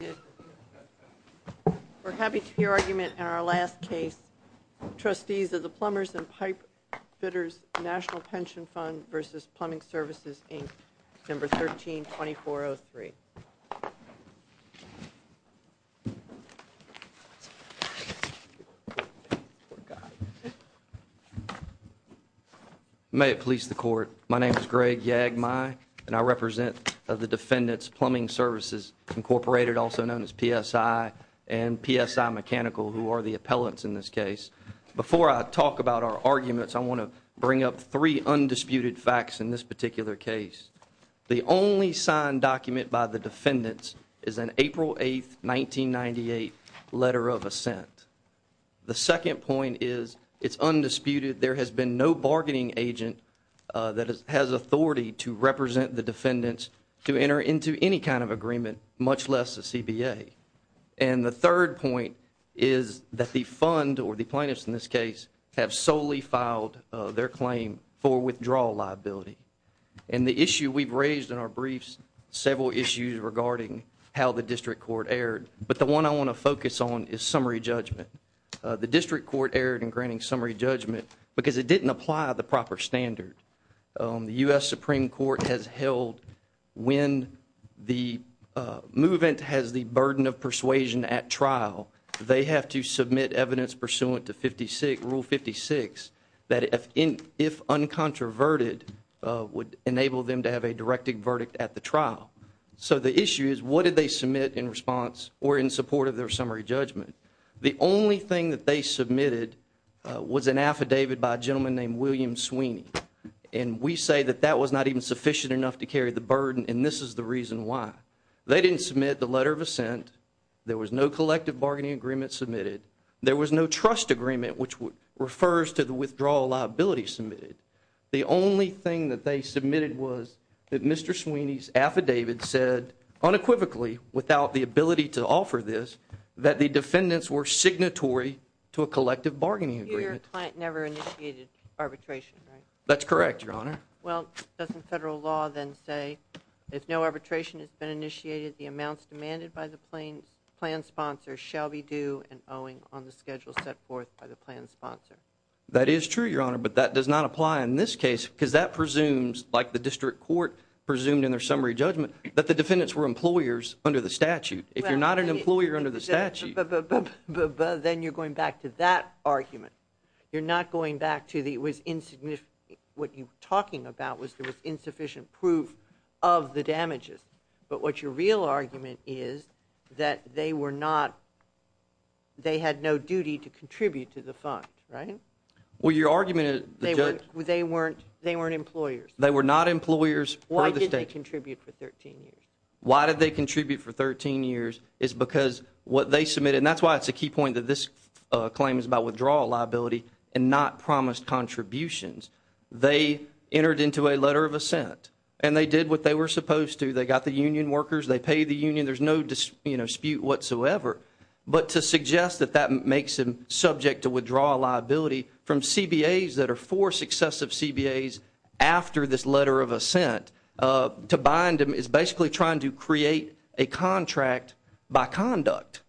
We're happy to hear argument in our last case. Trustees of the Plumbers and Pipefitters National Pension Fund v. Plumbing Services, Inc., December 13, 2403. May it please the court, my name is Greg Yagmai and I represent the Plumbers, also known as PSI, and PSI Mechanical, who are the appellants in this case. Before I talk about our arguments, I want to bring up three undisputed facts in this particular case. The only signed document by the defendants is an April 8, 1998, letter of assent. The second point is, it's undisputed, there has been no bargaining agent that has authority to represent the defendants to enter into any kind of agreement, much less the CBA. And the third point is that the fund, or the plaintiffs in this case, have solely filed their claim for withdrawal liability. And the issue we've raised in our briefs, several issues regarding how the district court erred, but the one I want to focus on is summary judgment. The district court erred in granting summary judgment because it didn't apply the Supreme Court has held when the movement has the burden of persuasion at trial, they have to submit evidence pursuant to Rule 56, that if uncontroverted, would enable them to have a directed verdict at the trial. So the issue is, what did they submit in response or in support of their summary judgment? The only thing that they submitted was an affidavit by a gentleman named William Sweeney. And we say that that was not even sufficient enough to carry the burden, and this is the reason why. They didn't submit the letter of assent, there was no collective bargaining agreement submitted, there was no trust agreement, which refers to the withdrawal liability submitted. The only thing that they submitted was that Mr. Sweeney's affidavit said, unequivocally, without the ability to offer this, that the defendants were signatory to a collective bargaining agreement. So your client never initiated arbitration, right? That's correct, Your Honor. Well, doesn't federal law then say, if no arbitration has been initiated, the amounts demanded by the plan sponsor shall be due and owing on the schedule set forth by the plan sponsor? That is true, Your Honor, but that does not apply in this case, because that presumes, like the district court presumed in their summary judgment, that the defendants were employers under the statute. If you're not an employer under the statute But, but, but, then you're going back to that argument. You're not going back to the it was insignificant, what you were talking about was there was insufficient proof of the damages. But what your real argument is, that they were not, they had no duty to contribute to the fund, right? Well your argument is They weren't, they weren't, they weren't employers. They were not employers per the statute. Why did they contribute for 13 years? Why did they contribute for 13 years is because what they submitted, and that's why it's a key point that this claim is about withdrawal liability and not promised contributions. They entered into a letter of assent and they did what they were supposed to. They got the union workers, they paid the union, there's no dispute whatsoever. But to suggest that that makes them subject to withdrawal liability from CBAs that are four successive CBAs after this letter of assent, to bind them is basically trying to create a contract by conduct.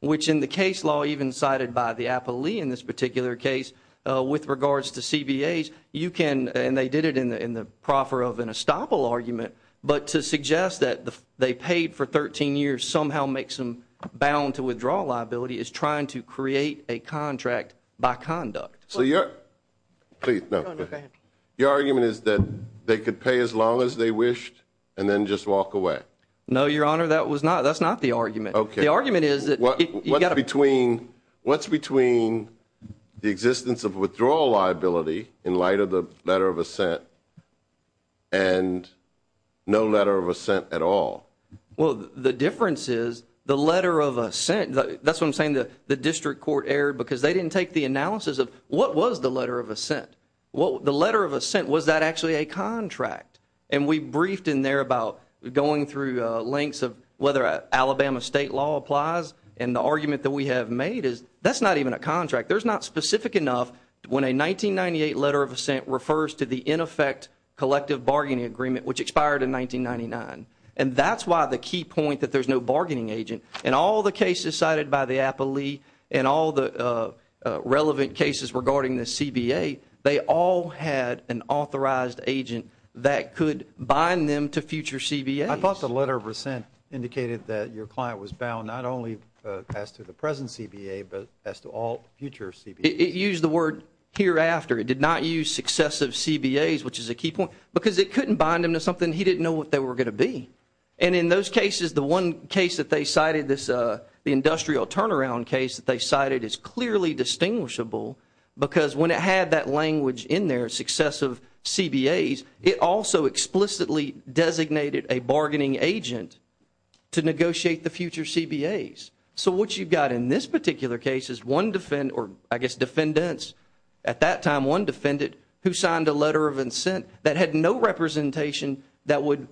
Which in the case law even cited by the Apo Lee in this particular case, with regards to CBAs, you can, and they did it in the proffer of an estoppel argument, but to suggest that they paid for 13 years somehow makes them bound to withdrawal liability is trying to create a contract by conduct. So your, please, go ahead. Your argument is that they could pay as long as they wished and then just walk away? No, your honor, that was not, that's not the argument. Okay. The argument is that What's between, what's between the existence of withdrawal liability in light of the letter of assent and no letter of assent at all? Well, the difference is the letter of assent, that's what I'm saying, the district court erred because they didn't take the analysis of what was the letter of assent? The letter of assent, was that actually a contract? And we briefed in there about going through links of whether Alabama state law applies and the argument that we have made is that's not even a contract. There's not specific enough when a 1998 letter of assent refers to the ineffect collective bargaining agreement, which expired in 1999. And that's why the key point that there's no bargaining agent in all the cases cited by the APALEE and all the relevant cases regarding the CBA, they all had an authorized agent that could bind them to future CBAs. I thought the letter of assent indicated that your client was bound not only as to the present CBA, but as to all future CBAs. It used the word hereafter, it did not use successive CBAs, which is a key point because it couldn't bind them to something he didn't know what they were going to be. And in those cases, the one case that they cited, the industrial turnaround case that they cited is clearly distinguishable because when it had that language in there, successive CBAs, it also explicitly designated a bargaining agent to negotiate the future CBAs. So what you've got in this particular case is one defendant, or I guess defendants at that time, one defendant who signed a letter of assent that had no representation that would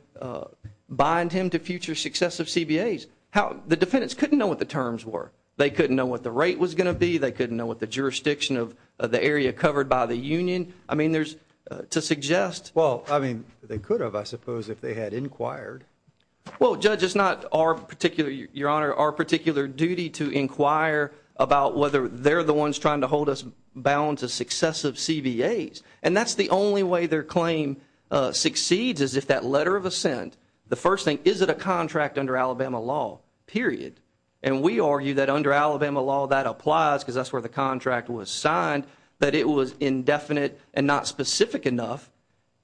bind him to future successive CBAs. The defendants couldn't know what the terms were. They couldn't know what the rate was going to be. They couldn't know what the jurisdiction of the area covered by the union. I mean, to suggest- Well, I mean, they could have, I suppose, if they had inquired. Well, Judge, it's not our particular duty to inquire about whether they're the ones trying to hold us bound to successive CBAs. And that's the only way their claim succeeds is if that letter of assent, the first thing, is it a contract under Alabama law, period. And we argue that under Alabama law, that applies because that's where the contract was signed, but it was indefinite and not specific enough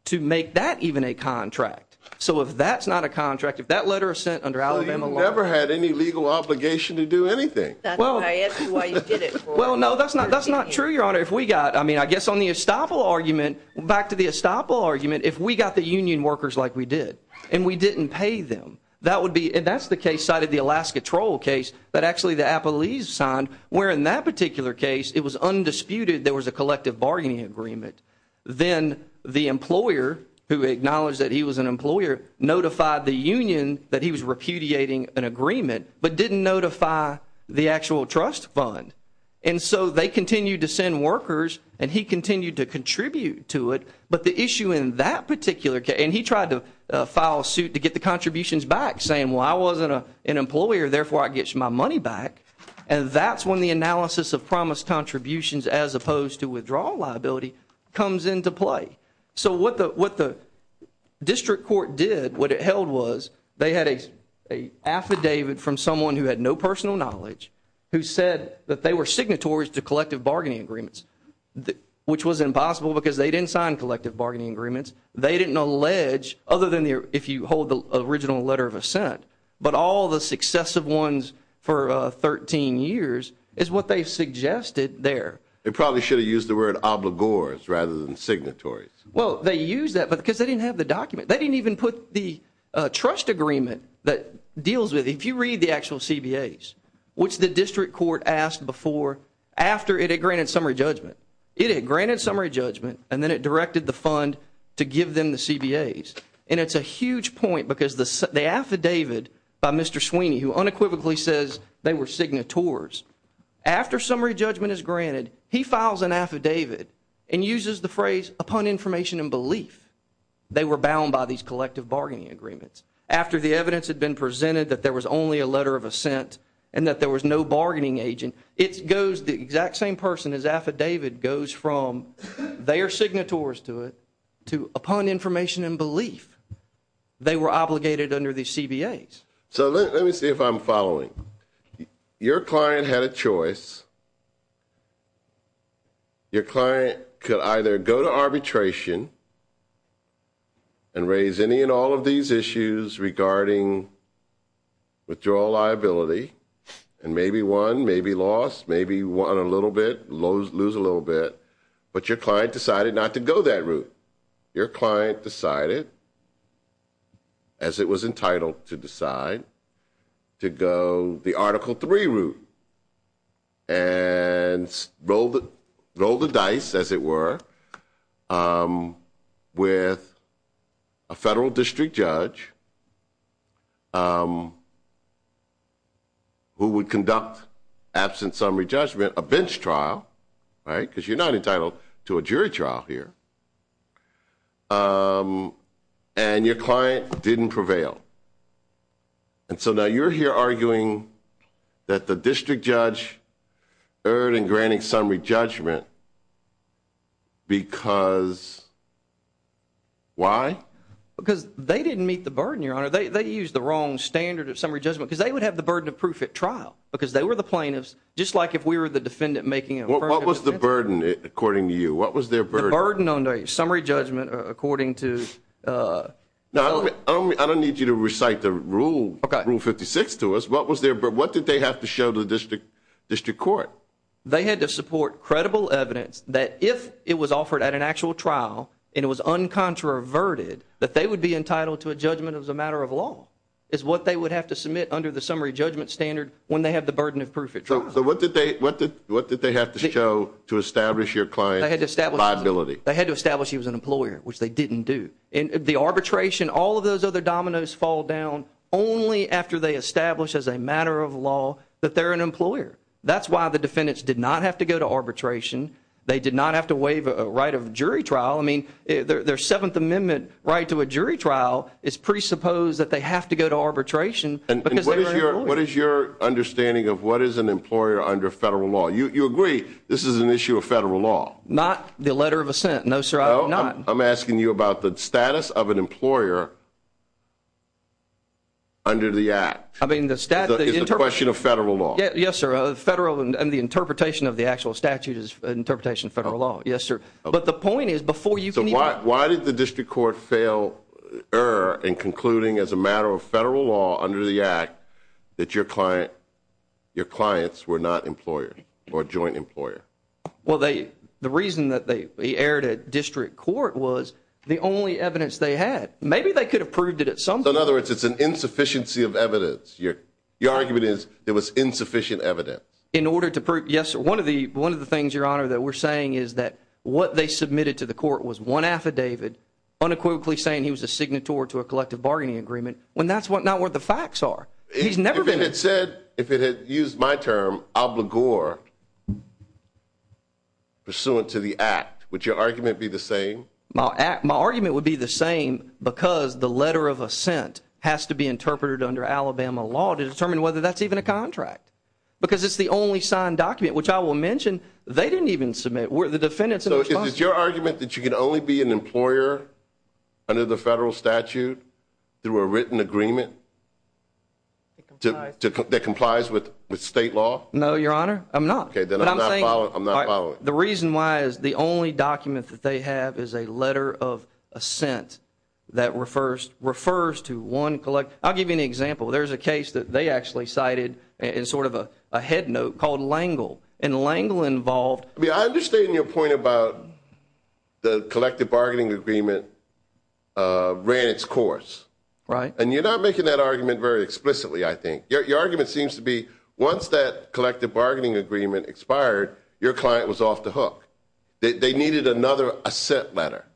to make that even a contract. So if that's not a contract, if that letter of assent under Alabama law- Well, you never had any legal obligation to do anything. That's why I asked you why you did it, Roy. Well, no, that's not true, Your Honor. If we got, I mean, I guess on the estoppel argument, back to the estoppel argument, if we got the union workers like we did and we didn't pay them, that would be, and that's the case side of the Alaska Troll case that actually the Appalachians signed, where in that particular case, it was undisputed there was a collective bargaining agreement. Then the employer, who acknowledged that he was an employer, notified the union that he was repudiating an agreement, but didn't notify the actual trust fund. And so they continued to send workers, and he continued to contribute to it, but the issue in that particular case, and he tried to file a suit to get the contributions back, saying, well, I wasn't an employer, therefore I get my money back, and that's when the analysis of promise contributions as opposed to withdrawal liability comes into play. So what the district court did, what it held was, they had an affidavit from someone who had no personal knowledge who said that they were signatories to collective bargaining agreements, which was impossible because they didn't sign collective bargaining agreements. They didn't allege, other than if you hold the original letter of assent, but all the successive ones for 13 years is what they suggested there. They probably should have used the word obligors rather than signatories. Well, they used that because they didn't have the document. They didn't even put the trust agreement that deals with it. If you read the actual CBAs, which the district court asked before, after it had granted summary judgment, it had granted summary judgment and then it directed the fund to give them the CBAs, and it's a huge point because the affidavit by Mr. Sweeney, who unequivocally says they were signatories, after summary judgment is granted, he files an affidavit and uses the phrase, upon information and belief, they were bound by these collective bargaining agreements. After the evidence had been presented that there was only a letter of assent and that there was no bargaining agent, it goes, the exact same person, his affidavit goes from they are signatories to it, to upon information and belief, they were obligated under these CBAs. So let me see if I'm following. Your client had a choice. Your client could either go to arbitration and raise any and all of these issues regarding withdrawal liability, and maybe won, maybe lost, maybe won a little bit, lose a little bit, but your client decided not to go that route. Your client decided, as it was entitled to decide, to go the Article III route. And roll the dice, as it were, with a federal district judge who would conduct, absent summary judgment, a bench trial, right, because you're not entitled to a jury trial here. And your client didn't prevail. And so now you're here arguing that the district judge erred in granting summary judgment because, why? Because they didn't meet the burden, Your Honor. They used the wrong standard of summary judgment, because they would have the burden of proof at trial, because they were the plaintiffs, just like if we were the defendant making a verdict. Well, what was the burden, according to you? What was their burden? The burden on summary judgment, according to... I don't need you to recite the Rule 56 to us. What was their burden? What did they have to show to the district court? They had to support credible evidence that if it was offered at an actual trial and it was uncontroverted, that they would be entitled to a judgment as a matter of law, is what they would have to submit under the summary judgment standard when they have the burden of proof at trial. So what did they have to show to establish your client's liability? They had to establish he was an employer, which they didn't do. The arbitration, all of those other dominoes fall down only after they establish as a matter of law that they're an employer. That's why the defendants did not have to go to arbitration. They did not have to waive a right of jury trial. I mean, their Seventh Amendment right to a jury trial is presupposed that they have to go to arbitration because they were an employer. What is your understanding of what is an employer under federal law? You agree this is an issue of federal law. No, not the letter of assent. No, sir. I'm not. I'm asking you about the status of an employer under the act. I mean, the statute is a question of federal law. Yes, sir. A federal and the interpretation of the actual statute is an interpretation of federal law. Yes, sir. But the point is before you can. So why? Why did the district court fail error in concluding as a matter of federal law under the act that your client, your clients were not employer or joint employer? Well, they the reason that they erred at district court was the only evidence they had. Maybe they could have proved it at some. In other words, it's an insufficiency of evidence. Your argument is there was insufficient evidence in order to prove. Yes. One of the one of the things, Your Honor, that we're saying is that what they submitted to the court was one affidavit unequivocally saying he was a signatory to a collective bargaining agreement when that's not what the facts are. He's never been. It said if it had used my term obligor pursuant to the act, would your argument be the same? My argument would be the same because the letter of assent has to be interpreted under Alabama law to determine whether that's even a contract. Because it's the only signed document, which I will mention, they didn't even submit where the defendants. So is your argument that you can only be an employer under the federal statute through a written agreement that complies with state law? No, Your Honor. I'm not. Okay, then I'm not following. I'm not following. The reason why is the only document that they have is a letter of assent that refers to one collect. I'll give you an example. There's a case that they actually cited in sort of a head note called L'Engle and L'Engle involved. I understand your point about the collective bargaining agreement ran its course. And you're not making that argument very explicitly, I think. Your argument seems to be once that collective bargaining agreement expired, your client was off the hook. They needed another assent letter.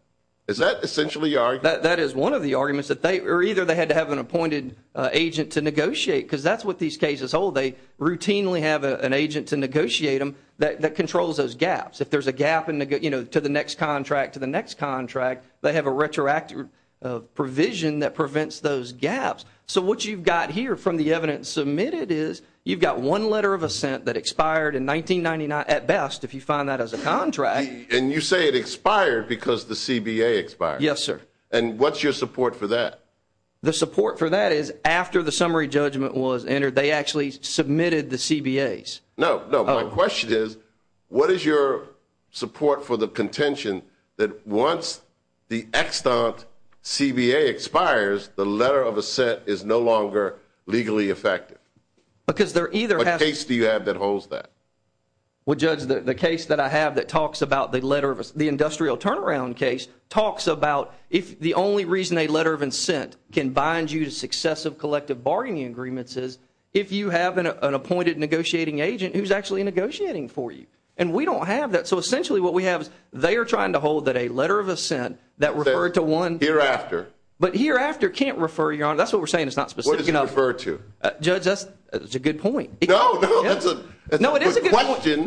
Is that essentially your argument? That is one of the arguments that they, or either they had to have an appointed agent to negotiate because that's what these cases hold. They routinely have an agent to negotiate them that controls those gaps. If there's a gap to the next contract to the next contract, they have a retroactive provision that prevents those gaps. So what you've got here from the evidence submitted is you've got one letter of assent that expired in 1999 at best, if you find that as a contract. And you say it expired because the CBA expired. Yes, sir. And what's your support for that? The support for that is after the summary judgment was entered. They actually submitted the CBAs. No, no. My question is, what is your support for the contention that once the extant CBA expires, the letter of assent is no longer legally effective? Because there either has to be... What case do you have that holds that? Well, Judge, the case that I have that talks about the letter of... The industrial turnaround case talks about if the only reason a letter of assent can bind you to successive collective bargaining agreements is if you have an appointed negotiating agent who's actually negotiating for you. And we don't have that. So essentially, what we have is they are trying to hold that a letter of assent that referred to one... Hereafter. But hereafter can't refer, Your Honor. That's what we're saying. It's not specific enough. What does it refer to? Judge, that's a good point. No, no. That's a good question. No, it is a good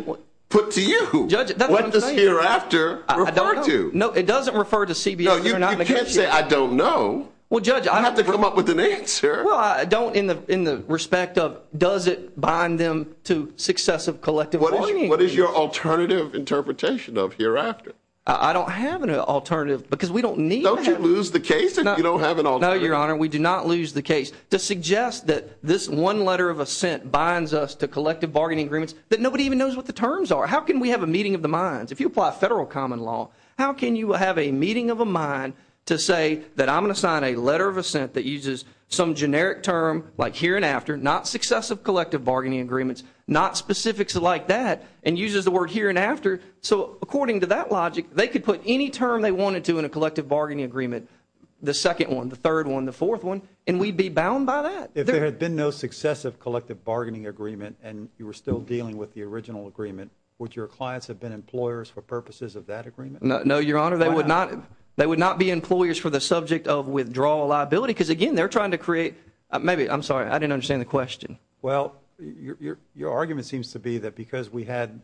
point. Put to you. Judge, that's what I'm saying. What does hereafter refer to? No, it doesn't refer to CBAs that are not negotiated. No, you can't say, I don't know. Well, Judge, I don't... You have to come up with an answer. Well, I don't in the respect of does it bind them to successive collective bargaining agreements. What is your alternative interpretation of hereafter? I don't have an alternative because we don't need to have... Don't you lose the case if you don't have an alternative? No, Your Honor. We do not lose the case. To suggest that this one letter of assent binds us to collective bargaining agreements that nobody even knows what the terms are. How can we have a meeting of the minds? If you apply federal common law, how can you have a meeting of a mind to say that I'm going to sign a letter of assent that uses some generic term like here and after, not successive collective bargaining agreements, not specifics like that, and uses the word here and after. So according to that logic, they could put any term they wanted to in a collective bargaining agreement, the second one, the third one, the fourth one, and we'd be bound by that. If there had been no successive collective bargaining agreement and you were still dealing with the original agreement, would your clients have been employers for purposes of that agreement? No, Your Honor. They would not be employers for the subject of withdrawal liability because, again, they're trying to create, maybe, I'm sorry, I didn't understand the question. Well, your argument seems to be that because we had,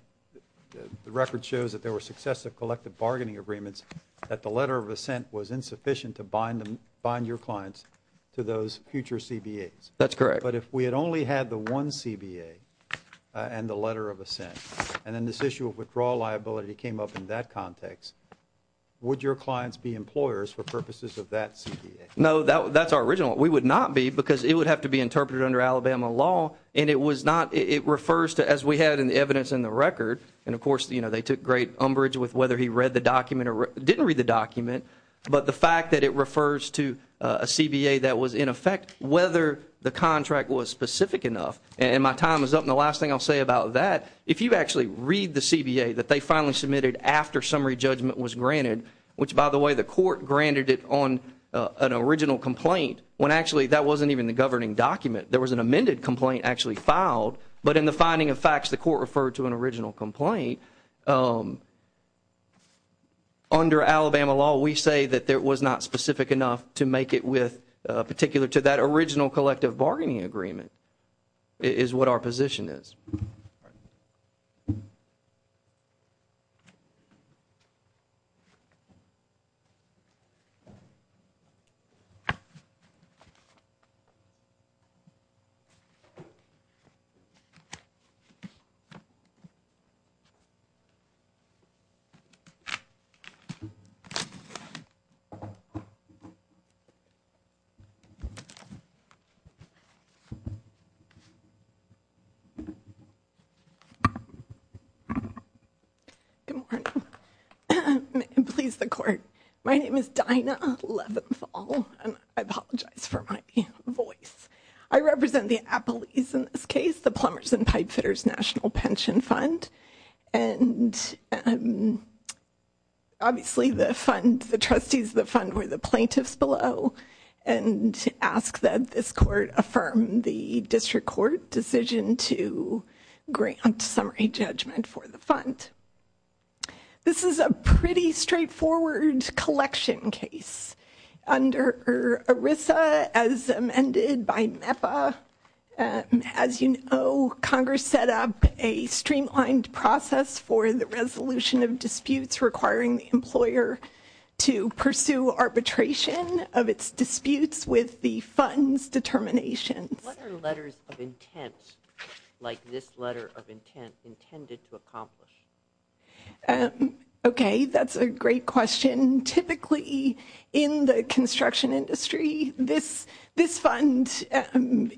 the record shows that there were successive collective bargaining agreements, that the letter of assent was insufficient to bind your clients to those future CBAs. That's correct. But if we had only had the one CBA and the letter of assent, and then this issue of withdrawal liability came up in that context, would your clients be employers for purposes of that CBA? No, that's our original. We would not be because it would have to be interpreted under Alabama law and it was not, it refers to, as we had in the evidence in the record, and of course, you know, they took great umbrage with whether he read the document or didn't read the document, but the fact that it refers to a CBA that was in effect, whether the contract was specific enough, and my time is up, and the last thing I'll say about that, if you actually read the CBA that they finally submitted after summary judgment was granted, which by the way, the court granted it on an original complaint, when actually that wasn't even the governing document. There was an amended complaint actually filed, but in the finding of facts, the court referred to an original complaint. Under Alabama law, we say that it was not specific enough to make it with, particular to that original collective bargaining agreement, is what our position is. Good morning, and please the court. My name is Dinah Leventhal, and I apologize for my voice. I represent the Appalachians in this case, the Plumbers and Pipefitters National Pension Fund, and obviously the fund, the trustees of the fund were the plaintiffs below, and to ask that this court affirm the district court decision to grant summary judgment for the fund. This is a pretty straightforward collection case. Under ERISA, as amended by MEPA, as you know, Congress set up a streamlined process for the resolution of disputes requiring the employer to pursue arbitration of its disputes with the fund's determinations. What are letters of intent, like this letter of intent, intended to accomplish? Okay, that's a great question. Typically in the construction industry, this fund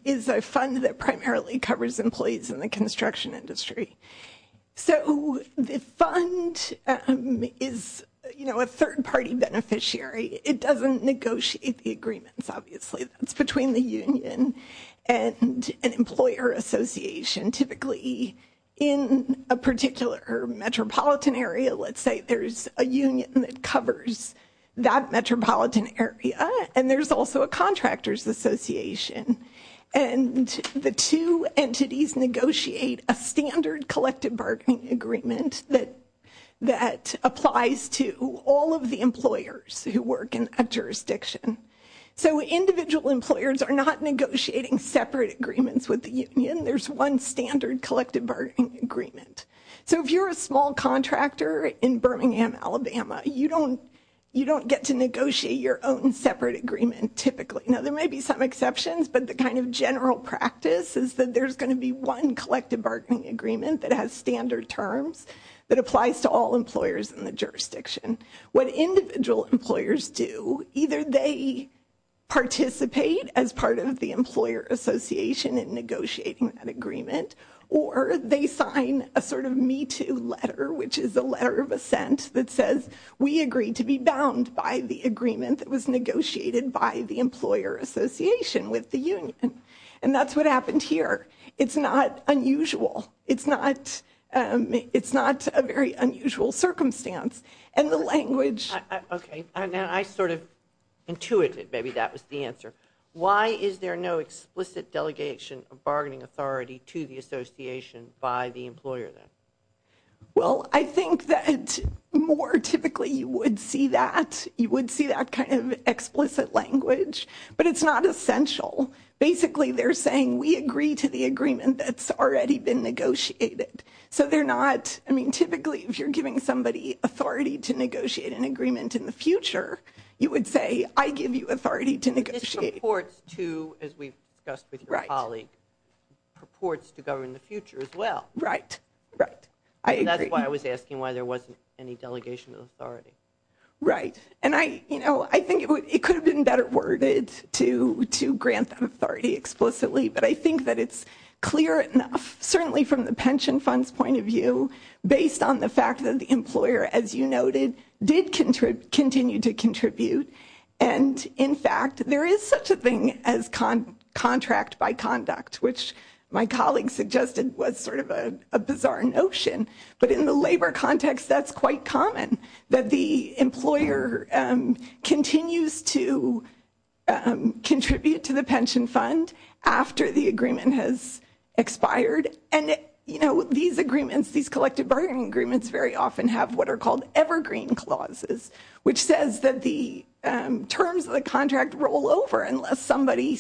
is a fund that primarily covers employees in the construction industry. So the fund is, you know, a third party beneficiary. It doesn't negotiate the agreements, obviously, that's between the union and an employer association. Typically in a particular metropolitan area, let's say there's a union that covers that metropolitan area, and there's also a contractor's association, and the two entities negotiate a standard collective bargaining agreement that applies to all of the employers who work in a jurisdiction. So individual employers are not negotiating separate agreements with the union. There's one standard collective bargaining agreement. So if you're a small contractor in Birmingham, Alabama, you don't get to negotiate your own separate agreement typically. Now, there may be some exceptions, but the kind of general practice is that there's going to be one collective bargaining agreement that has standard terms, that applies to all employers in the jurisdiction. What individual employers do, either they participate as part of the employer association in negotiating that agreement, or they sign a sort of Me Too letter, which is a letter of assent that says, we agree to be bound by the agreement that was negotiated by the employer association with the union. And that's what happened here. It's not unusual. It's not a very unusual circumstance. And the language... Okay. And I sort of intuited maybe that was the answer. Why is there no explicit delegation of bargaining authority to the association by the employer then? Well, I think that more typically you would see that. You would see that kind of explicit language. But it's not essential. Basically, they're saying, we agree to the agreement that's already been negotiated. So they're not... I mean, typically, if you're giving somebody authority to negotiate an agreement in the future, you would say, I give you authority to negotiate. But this purports to, as we've discussed with your colleague, purports to govern the future as well. Right. Right. And that's why I was asking why there wasn't any delegation of authority. Right. And I think it could have been better worded to grant that authority explicitly. But I think that it's clear enough, certainly from the pension fund's point of view, based on the fact that the employer, as you noted, did continue to contribute. And in fact, there is such a thing as contract by conduct, which my colleague suggested was sort of a bizarre notion. But in the labor context, that's quite common, that the employer continues to contribute to the pension fund after the agreement has expired. And these agreements, these collective bargaining agreements, very often have what are called evergreen clauses, which says that the terms of the contract roll over unless somebody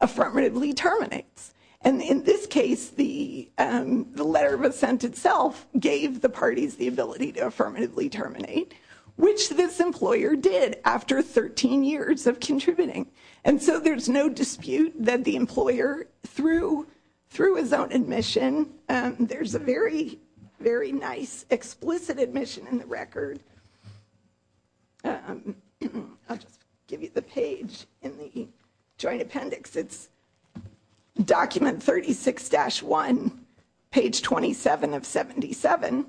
affirmatively terminates. And in this case, the letter of assent itself gave the parties the ability to affirmatively terminate, which this employer did after 13 years of contributing. And so there's no dispute that the employer, through his own admission, there's a very, very nice explicit admission in the record. I'll just give you the page in the joint appendix. It's document 36-1, page 27 of 77.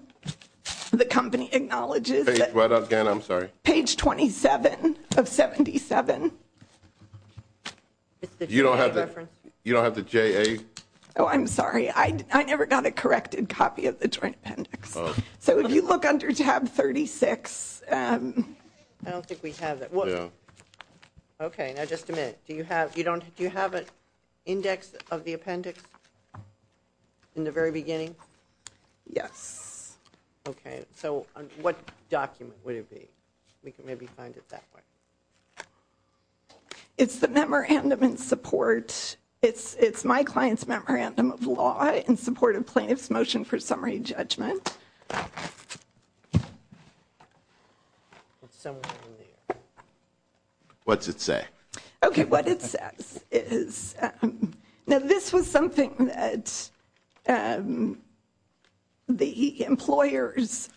The company acknowledges that page 27 of 77. You don't have the J.A.? Oh, I'm sorry. I never got a corrected copy of the joint appendix. So if you look under tab 36. I don't think we have that. Yeah. Okay. Now, just a minute. Do you have an index of the appendix in the very beginning? Yes. Okay. So what document would it be? We can maybe find it that way. It's the memorandum in support. It's my client's memorandum of law in support of plaintiff's motion for summary judgment. What's it say? Okay. What it says is, now, this was something that the employer's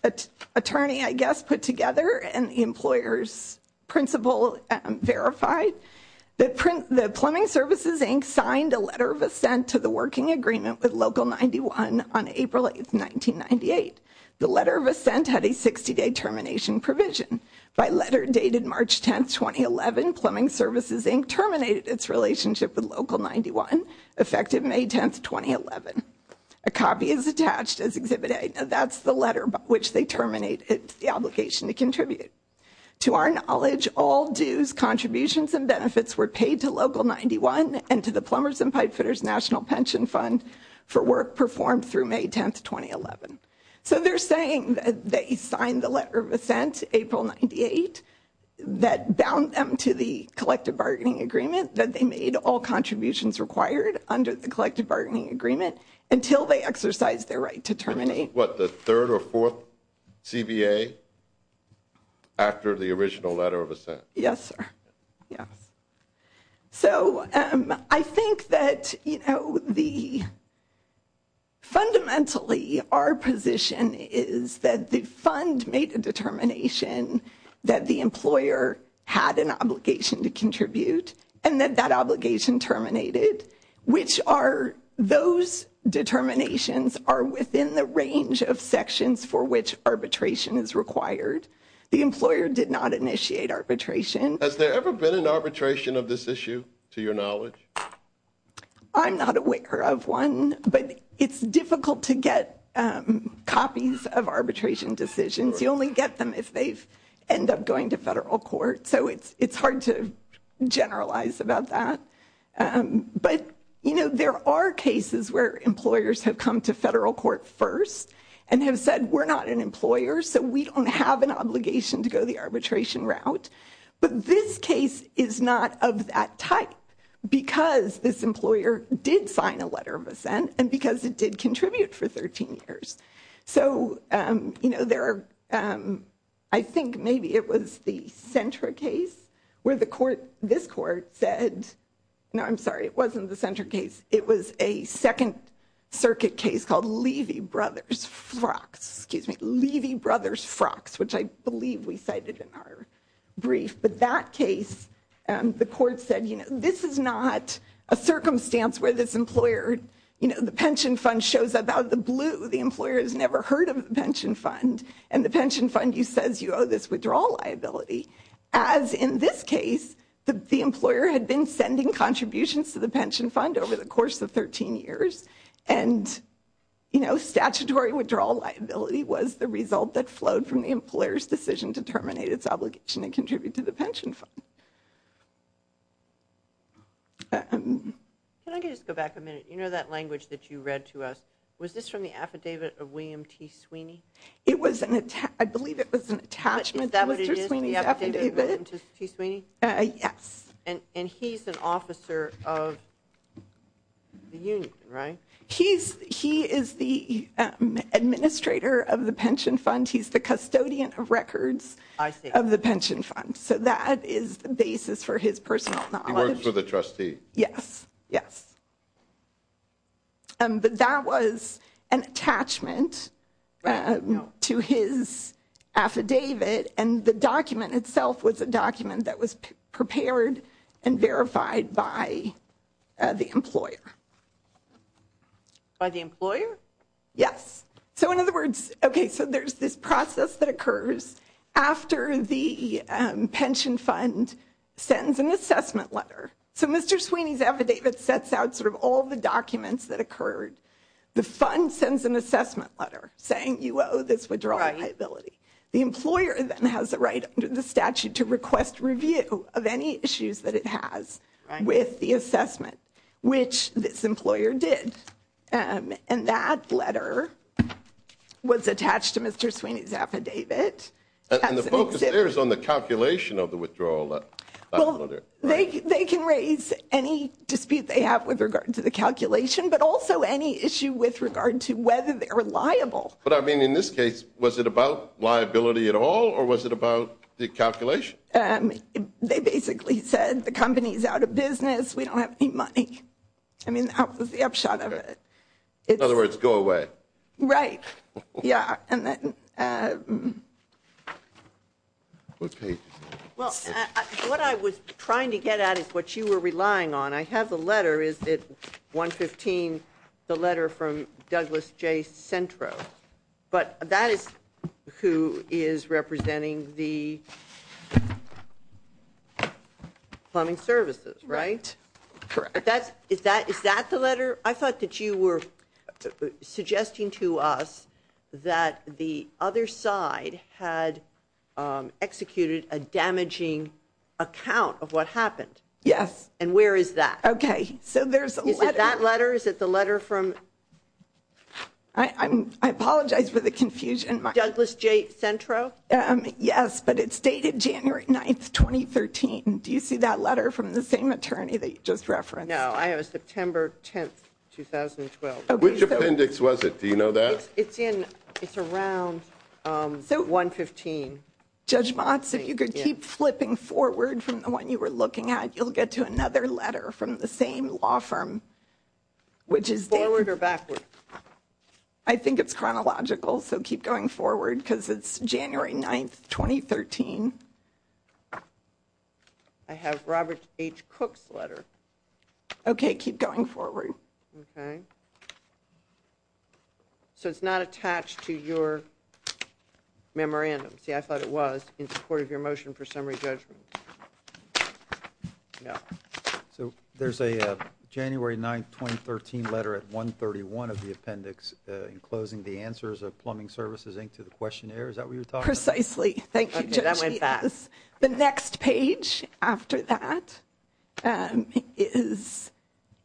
attorney, I guess, put together and the employer's principal verified. The Plumbing Services, Inc. signed a letter of assent to the working agreement with Local 91 on April 8th, 1998. The letter of assent had a 60-day termination provision. By letter dated March 10th, 2011, Plumbing Services, Inc. terminated its relationship with Local 91, effective May 10th, 2011. A copy is attached as Exhibit A. That's the letter by which they terminate the obligation to contribute. To our knowledge, all dues, contributions, and benefits were paid to Local 91 and to the Plumbers and Pipefooters National Pension Fund for work performed through May 10th, 2011. So they're saying that they signed the letter of assent, April 98, that bound them to the collective bargaining agreement, that they made all contributions required under the collective bargaining agreement until they exercised their right to terminate. What, the third or fourth CBA after the original letter of assent? Yes, sir. Yes. So I think that, you know, the fundamentally our position is that the fund made a determination that the employer had an obligation to contribute and that that obligation terminated, which are those determinations are within the range of sections for which arbitration is required. The employer did not initiate arbitration. Has there ever been an arbitration of this issue, to your knowledge? I'm not aware of one, but it's difficult to get copies of arbitration decisions. You only get them if they end up going to federal court. So it's hard to generalize about that, but you know, there are cases where employers have come to federal court first and have said, we're not an employer, so we don't have an obligation to go the arbitration route. But this case is not of that type because this employer did sign a letter of assent and because it did contribute for 13 years. So you know, there are, I think maybe it was the Sentra case where the court, this court said, no, I'm sorry, it wasn't the Sentra case. It was a second circuit case called Levy Brothers FROX, excuse me, Levy Brothers FROX, which I believe we cited in our brief, but that case, the court said, you know, this is not a circumstance where this employer, you know, the pension fund shows up out of the blue. The employer has never heard of the pension fund, and the pension fund says you owe this withdrawal liability, as in this case, the employer had been sending contributions to the pension fund over the course of 13 years, and you know, statutory withdrawal liability was the result that flowed from the employer's decision to terminate its obligation to contribute to the pension fund. Can I just go back a minute? You know that language that you read to us? Was this from the affidavit of William T. Sweeney? It was an, I believe it was an attachment to Mr. Sweeney's affidavit. Is that what it is, the affidavit of William T. Sweeney? Yes. And he's an officer of the union, right? He's, he is the administrator of the pension fund. He's the custodian of records of the pension fund, so that is the basis for his personal knowledge. He works for the trustee. Yes. Yes. But that was an attachment to his affidavit, and the document itself was a document that the employer. By the employer? Yes. So in other words, okay, so there's this process that occurs after the pension fund sends an assessment letter. So Mr. Sweeney's affidavit sets out sort of all the documents that occurred. The fund sends an assessment letter saying you owe this withdrawal liability. The employer then has the right under the statute to request review of any issues that it has with the assessment, which this employer did, and that letter was attached to Mr. Sweeney's affidavit. And the focus there is on the calculation of the withdrawal. They can raise any dispute they have with regard to the calculation, but also any issue with regard to whether they're liable. But I mean, in this case, was it about liability at all, or was it about the calculation? They basically said the company's out of business, we don't have any money. I mean, that was the upshot of it. In other words, go away. Right. Yeah. Okay. Well, what I was trying to get at is what you were relying on. I have the letter, is it 115, the letter from Douglas J. Centro. But that is who is representing the plumbing services, right? Correct. Is that the letter? I thought that you were suggesting to us that the other side had executed a damaging account of what happened. Yes. And where is that? Okay. So there's a letter. Is it that letter? Is it the letter from? I apologize for the confusion. Douglas J. Centro? Yes, but it's dated January 9th, 2013. Do you see that letter from the same attorney that you just referenced? No, I have a September 10th, 2012. Which appendix was it? Do you know that? It's in, it's around 115. Judge Motz, if you could keep flipping forward from the one you were looking at, you'll get to another letter from the same law firm. Forward or backward? I think it's chronological, so keep going forward because it's January 9th, 2013. I have Robert H. Cook's letter. Okay, keep going forward. Okay. So it's not attached to your memorandum. See, I thought it was in support of your motion for summary judgment. No. So there's a January 9th, 2013 letter at 131 of the appendix enclosing the answers of Plumbing Services, Inc. to the questionnaire. Is that what you were talking about? Precisely. Thank you, Judge. Okay, that went fast. The next page after that is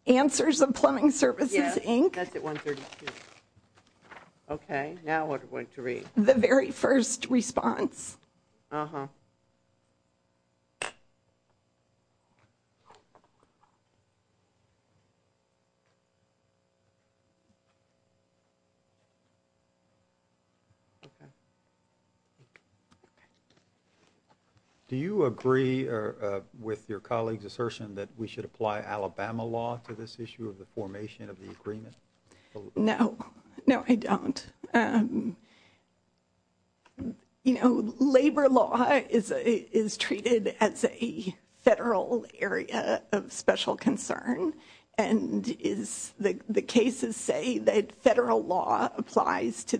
answers of Plumbing Services, Inc. Yes, that's at 132. Okay, now what are we going to read? The very first response. Uh-huh. Do you agree with your colleague's assertion that we should apply Alabama law to this issue of the formation of the agreement? No. No, I don't. You know, labor law is treated as a federal area of special concern, and the cases say that federal law applies to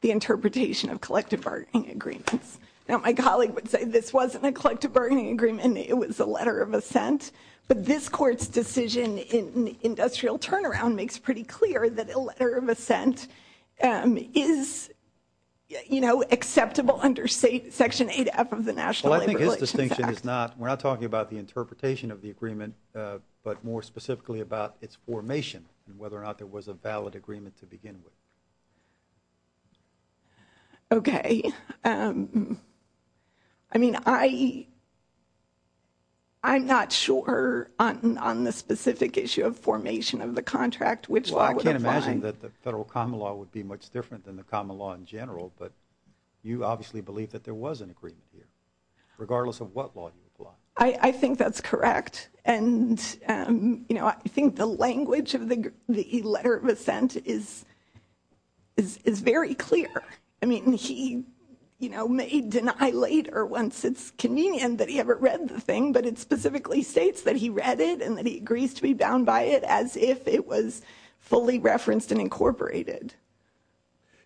the interpretation of collective bargaining agreements. Now, my colleague would say this wasn't a collective bargaining agreement. It was a letter of assent. But this Court's decision in industrial turnaround makes pretty clear that a letter of assent is, you know, acceptable under Section 8F of the National Labor Relations Act. Well, I think his distinction is not. We're not talking about the interpretation of the agreement, but more specifically about its formation and whether or not there was a valid agreement to begin with. Okay. I mean, I'm not sure on the specific issue of formation of the contract which law would Well, I can't imagine that the federal common law would be much different than the common law in general, but you obviously believe that there was an agreement here, regardless of what law you apply. I think that's correct. And, you know, I think the language of the letter of assent is very clear. I mean, he, you know, may deny later once it's convenient that he ever read the thing, but it specifically states that he read it and that he agrees to be bound by it as if it was fully referenced and incorporated.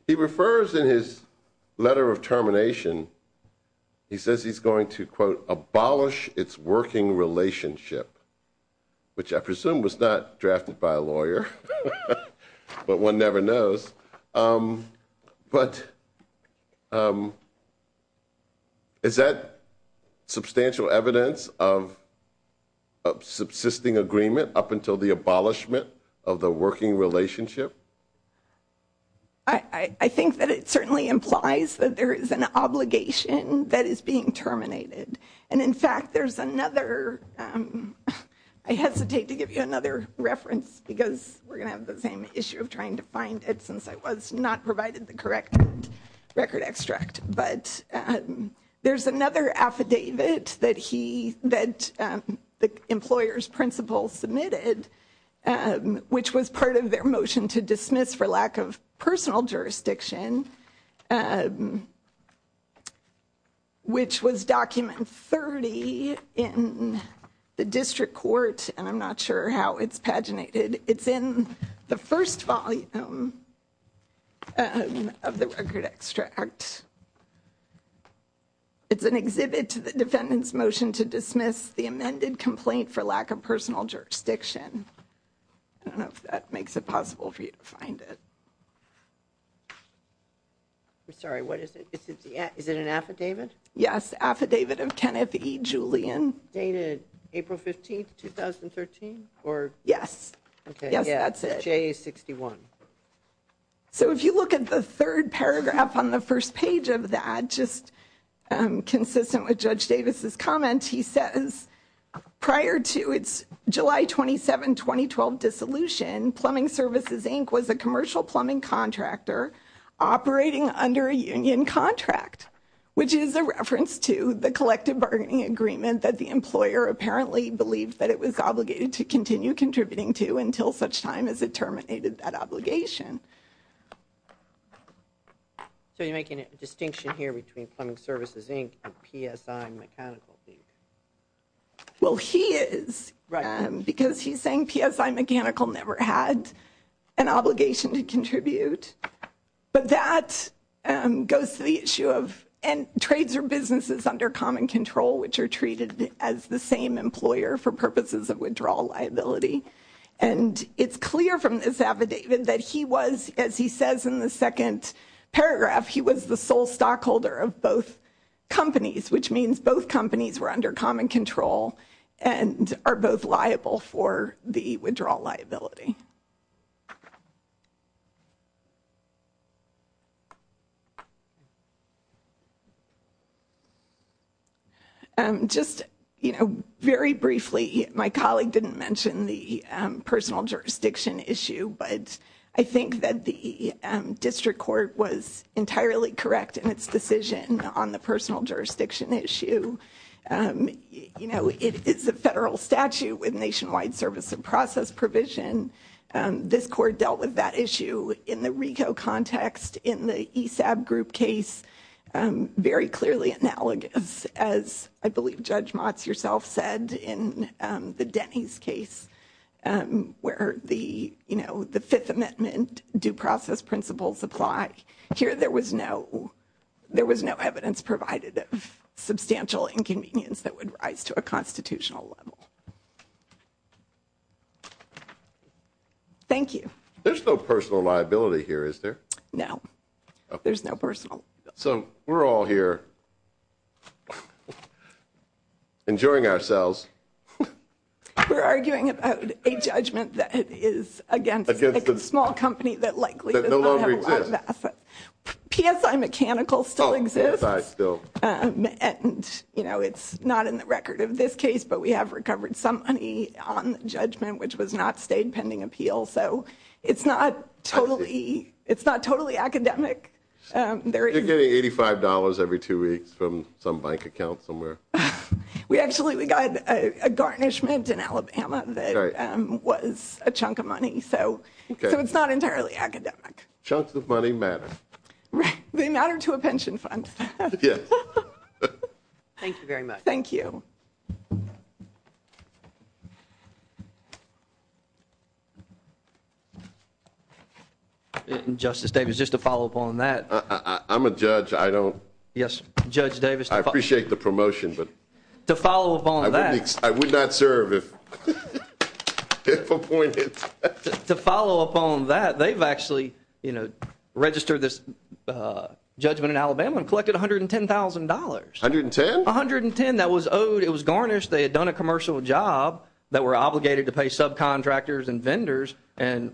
He refers in his letter of termination, he says he's going to, quote, abolish its working relationship, which I presume was not drafted by a lawyer, but one never knows. But is that substantial evidence of subsisting agreement up until the abolishment of the working relationship? I think that it certainly implies that there is an obligation that is being terminated. And, in fact, there's another, I hesitate to give you another reference because we're not provided the correct record extract, but there's another affidavit that he, that the employer's principal submitted, which was part of their motion to dismiss for lack of personal jurisdiction, which was document 30 in the district court, and I'm not sure how it's paginated. It's in the first volume of the record extract. It's an exhibit to the defendant's motion to dismiss the amended complaint for lack of personal jurisdiction. I don't know if that makes it possible for you to find it. I'm sorry, what is it? Is it an affidavit? Yes, affidavit of Kenneth E. Julian. Dated April 15, 2013? Yes. Yes, that's it. J61. So, if you look at the third paragraph on the first page of that, just consistent with Judge Davis's comment, he says, prior to its July 27, 2012 dissolution, Plumbing Services Inc. was a commercial plumbing contractor operating under a union contract, which is a reference to the collective bargaining agreement that the employer apparently believed that it was obligated to continue contributing to until such time as it terminated that obligation. So, you're making a distinction here between Plumbing Services Inc. and PSI Mechanical Inc.? Well, he is, because he's saying PSI Mechanical never had an obligation to contribute, but that goes to the issue of trades or businesses under common control, which are treated as the same employer for purposes of withdrawal liability. And it's clear from this affidavit that he was, as he says in the second paragraph, he was the sole stockholder of both companies, which means both companies were under common control and are both liable for the withdrawal liability. Just, you know, very briefly, my colleague didn't mention the personal jurisdiction issue, but I think that the district court was entirely correct in its decision on the personal jurisdiction issue. You know, it's a federal statute with nationwide service and process provision. This court dealt with that issue in the RICO context, in the ESAB group case, very clearly analogous, as I believe Judge Motz yourself said, in the Denny's case, where the, you know, the Fifth Amendment due process principles apply. Here there was no, there was no evidence provided of substantial inconvenience that would rise to a constitutional level. Thank you. There's no personal liability here, is there? No. There's no personal. So we're all here enjoying ourselves. We're arguing about a judgment that is against a small company that likely does not have asset. PSI Mechanical still exists. Oh, PSI still. And, you know, it's not in the record of this case, but we have recovered some money on the judgment, which was not stayed pending appeal. So it's not totally, it's not totally academic. You're getting $85 every two weeks from some bank account somewhere. We actually, we got a garnishment in Alabama that was a chunk of money. So it's not entirely academic. Chunks of money matter. They matter to a pension fund. Yes. Thank you very much. Thank you. Justice Davis, just to follow up on that. I'm a judge. I don't. Yes, Judge Davis. I appreciate the promotion, but. To follow up on that. I would not serve if appointed. To follow up on that, they've actually, you know, registered this judgment in Alabama and collected $110,000. 110? 110. That was owed. It was garnished. They had done a commercial job that we're obligated to pay subcontractors and vendors,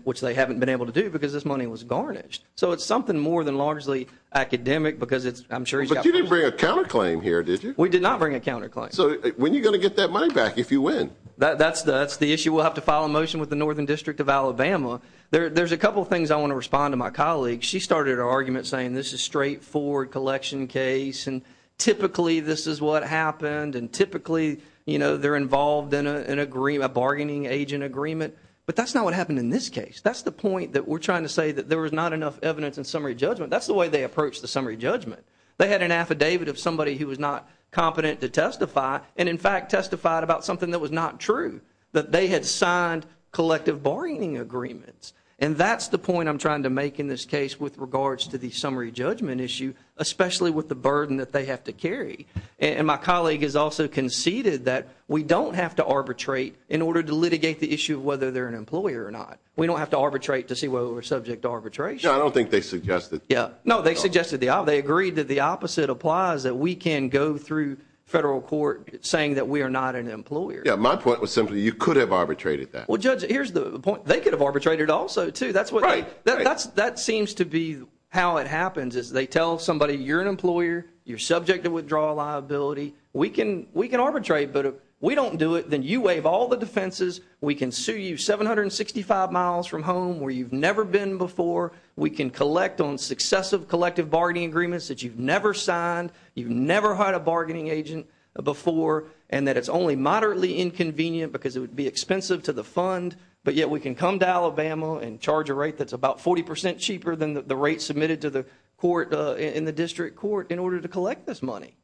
which they haven't been able to do because this money was garnished. So it's something more than largely academic because it's, I'm sure. But you didn't bring a counterclaim here, did you? We did not bring a counterclaim. So when are you going to get that money back if you win? That's the issue. We'll have to file a motion with the Northern District of Alabama. There's a couple things I want to respond to my colleague. She started her argument saying this is straightforward collection case and typically this is what happened and typically, you know, they're involved in a bargaining agent agreement. But that's not what happened in this case. That's the point that we're trying to say that there was not enough evidence in summary judgment. That's the way they approached the summary judgment. They had an affidavit of somebody who was not competent to testify and, in fact, testified about something that was not true. That they had signed collective bargaining agreements. And that's the point I'm trying to make in this case with regards to the summary judgment issue, especially with the burden that they have to carry. And my colleague has also conceded that we don't have to arbitrate in order to litigate the issue of whether they're an employer or not. We don't have to arbitrate to see whether we're subject to arbitration. No, I don't think they suggested that. No, they suggested the opposite. They agreed that the opposite applies, that we can go through federal court saying that we are not an employer. Yeah, my point was simply you could have arbitrated that. Well, Judge, here's the point. They could have arbitrated also, too. Right. That seems to be how it happens is they tell somebody, you're an employer. You're subject to withdrawal liability. We can arbitrate, but if we don't do it, then you waive all the defenses. We can sue you 765 miles from home where you've never been before. We can collect on successive collective bargaining agreements that you've never signed. You've never hired a bargaining agent before and that it's only moderately inconvenient because it would be expensive to the fund, but yet we can come to Alabama and charge a rate that's about 40 percent cheaper than the rate submitted to the court in the district court in order to collect this money.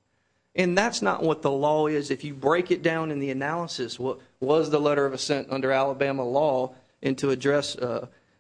And that's not what the law is. If you break it down in the analysis, what was the letter of assent under Alabama law? And to address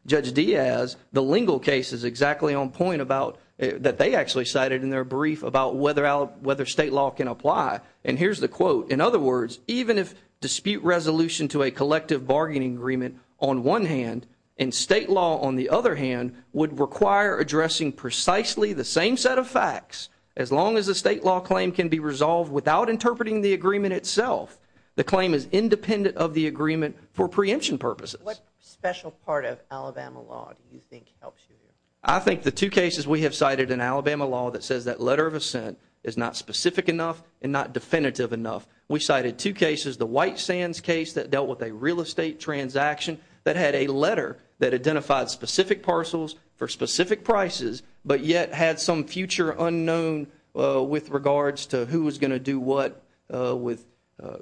Judge Diaz, the legal case is exactly on point about that. They actually cited in their brief about whether out whether state law can apply. And here's the quote. In other words, even if dispute resolution to a collective bargaining agreement on one hand and state law, on the other hand, would require addressing precisely the same set of facts as long as the state law claim can be resolved without interpreting the agreement itself. The claim is independent of the agreement for preemption purposes. What special part of Alabama law do you think helps you? I think the two cases we have cited in Alabama law that says that letter of assent is not specific enough and not definitive enough. We cited two cases, the White Sands case that dealt with a real estate transaction that had a letter that identified specific parcels for specific prices, but yet had some future unknown with regards to who was going to do what with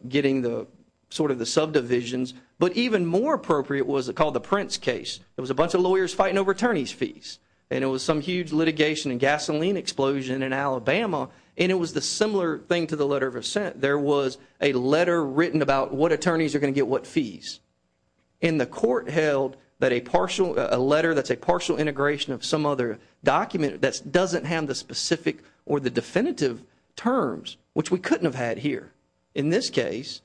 getting sort of the subdivisions. But even more appropriate was called the Prince case. It was a bunch of lawyers fighting over attorney's fees. And it was some huge litigation and gasoline explosion in Alabama. And it was the similar thing to the letter of assent. There was a letter written about what attorneys are going to get what fees. And the court held that a letter that's a partial integration of some other document that doesn't have the specific or the definitive terms, which we couldn't have had here in this case,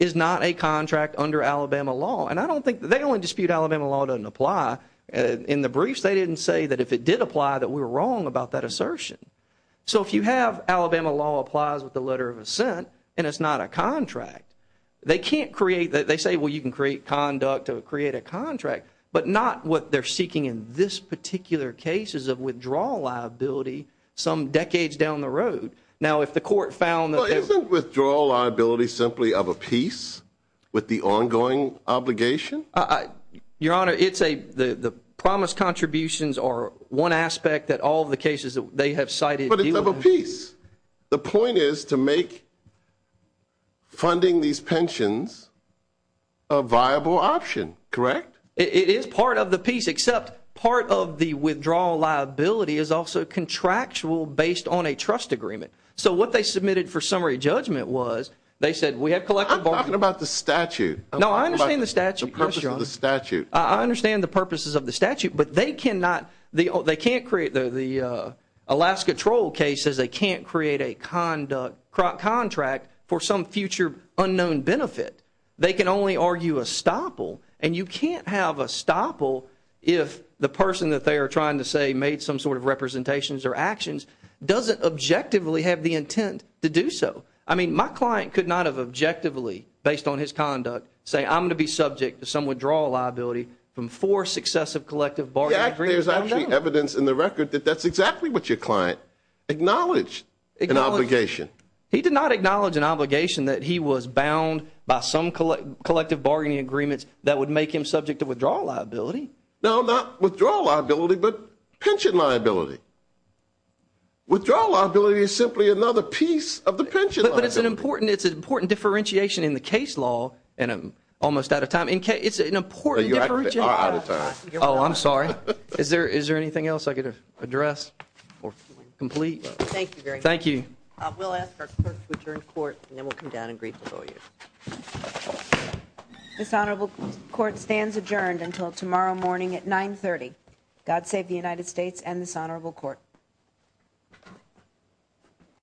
is not a contract under Alabama law. And I don't think – they only dispute Alabama law doesn't apply. In the briefs, they didn't say that if it did apply that we were wrong about that assertion. So if you have Alabama law applies with the letter of assent and it's not a contract, they can't create – they say, well, you can create conduct or create a contract, but not what they're seeking in this particular case is a withdrawal liability some decades down the road. Now, if the court found that – Well, isn't withdrawal liability simply of a piece with the ongoing obligation? Your Honor, it's a – the promise contributions are one aspect that all the cases that they have cited – But it's of a piece. The point is to make funding these pensions a viable option, correct? It is part of the piece, except part of the withdrawal liability is also contractual based on a trust agreement. So what they submitted for summary judgment was they said we have collective bargaining – I'm talking about the statute. No, I understand the statute. I'm talking about the purpose of the statute. I understand the purposes of the statute, but they cannot – they can't create – Alaska Troll case says they can't create a conduct – contract for some future unknown benefit. They can only argue a stopple, and you can't have a stopple if the person that they are trying to say made some sort of representations or actions doesn't objectively have the intent to do so. I mean, my client could not have objectively, based on his conduct, say I'm going to be subject to some withdrawal liability from four successive collective bargaining agreements. But there's actually evidence in the record that that's exactly what your client acknowledged, an obligation. He did not acknowledge an obligation that he was bound by some collective bargaining agreements that would make him subject to withdrawal liability. No, not withdrawal liability, but pension liability. Withdrawal liability is simply another piece of the pension liability. But it's an important differentiation in the case law, and I'm almost out of time. It's an important differentiation. Oh, I'm sorry. Is there anything else I could address or complete? Thank you very much. Thank you. We'll ask our clerk to return to court, and then we'll come down and greet the lawyers. This honorable court stands adjourned until tomorrow morning at 9.30. God save the United States and this honorable court.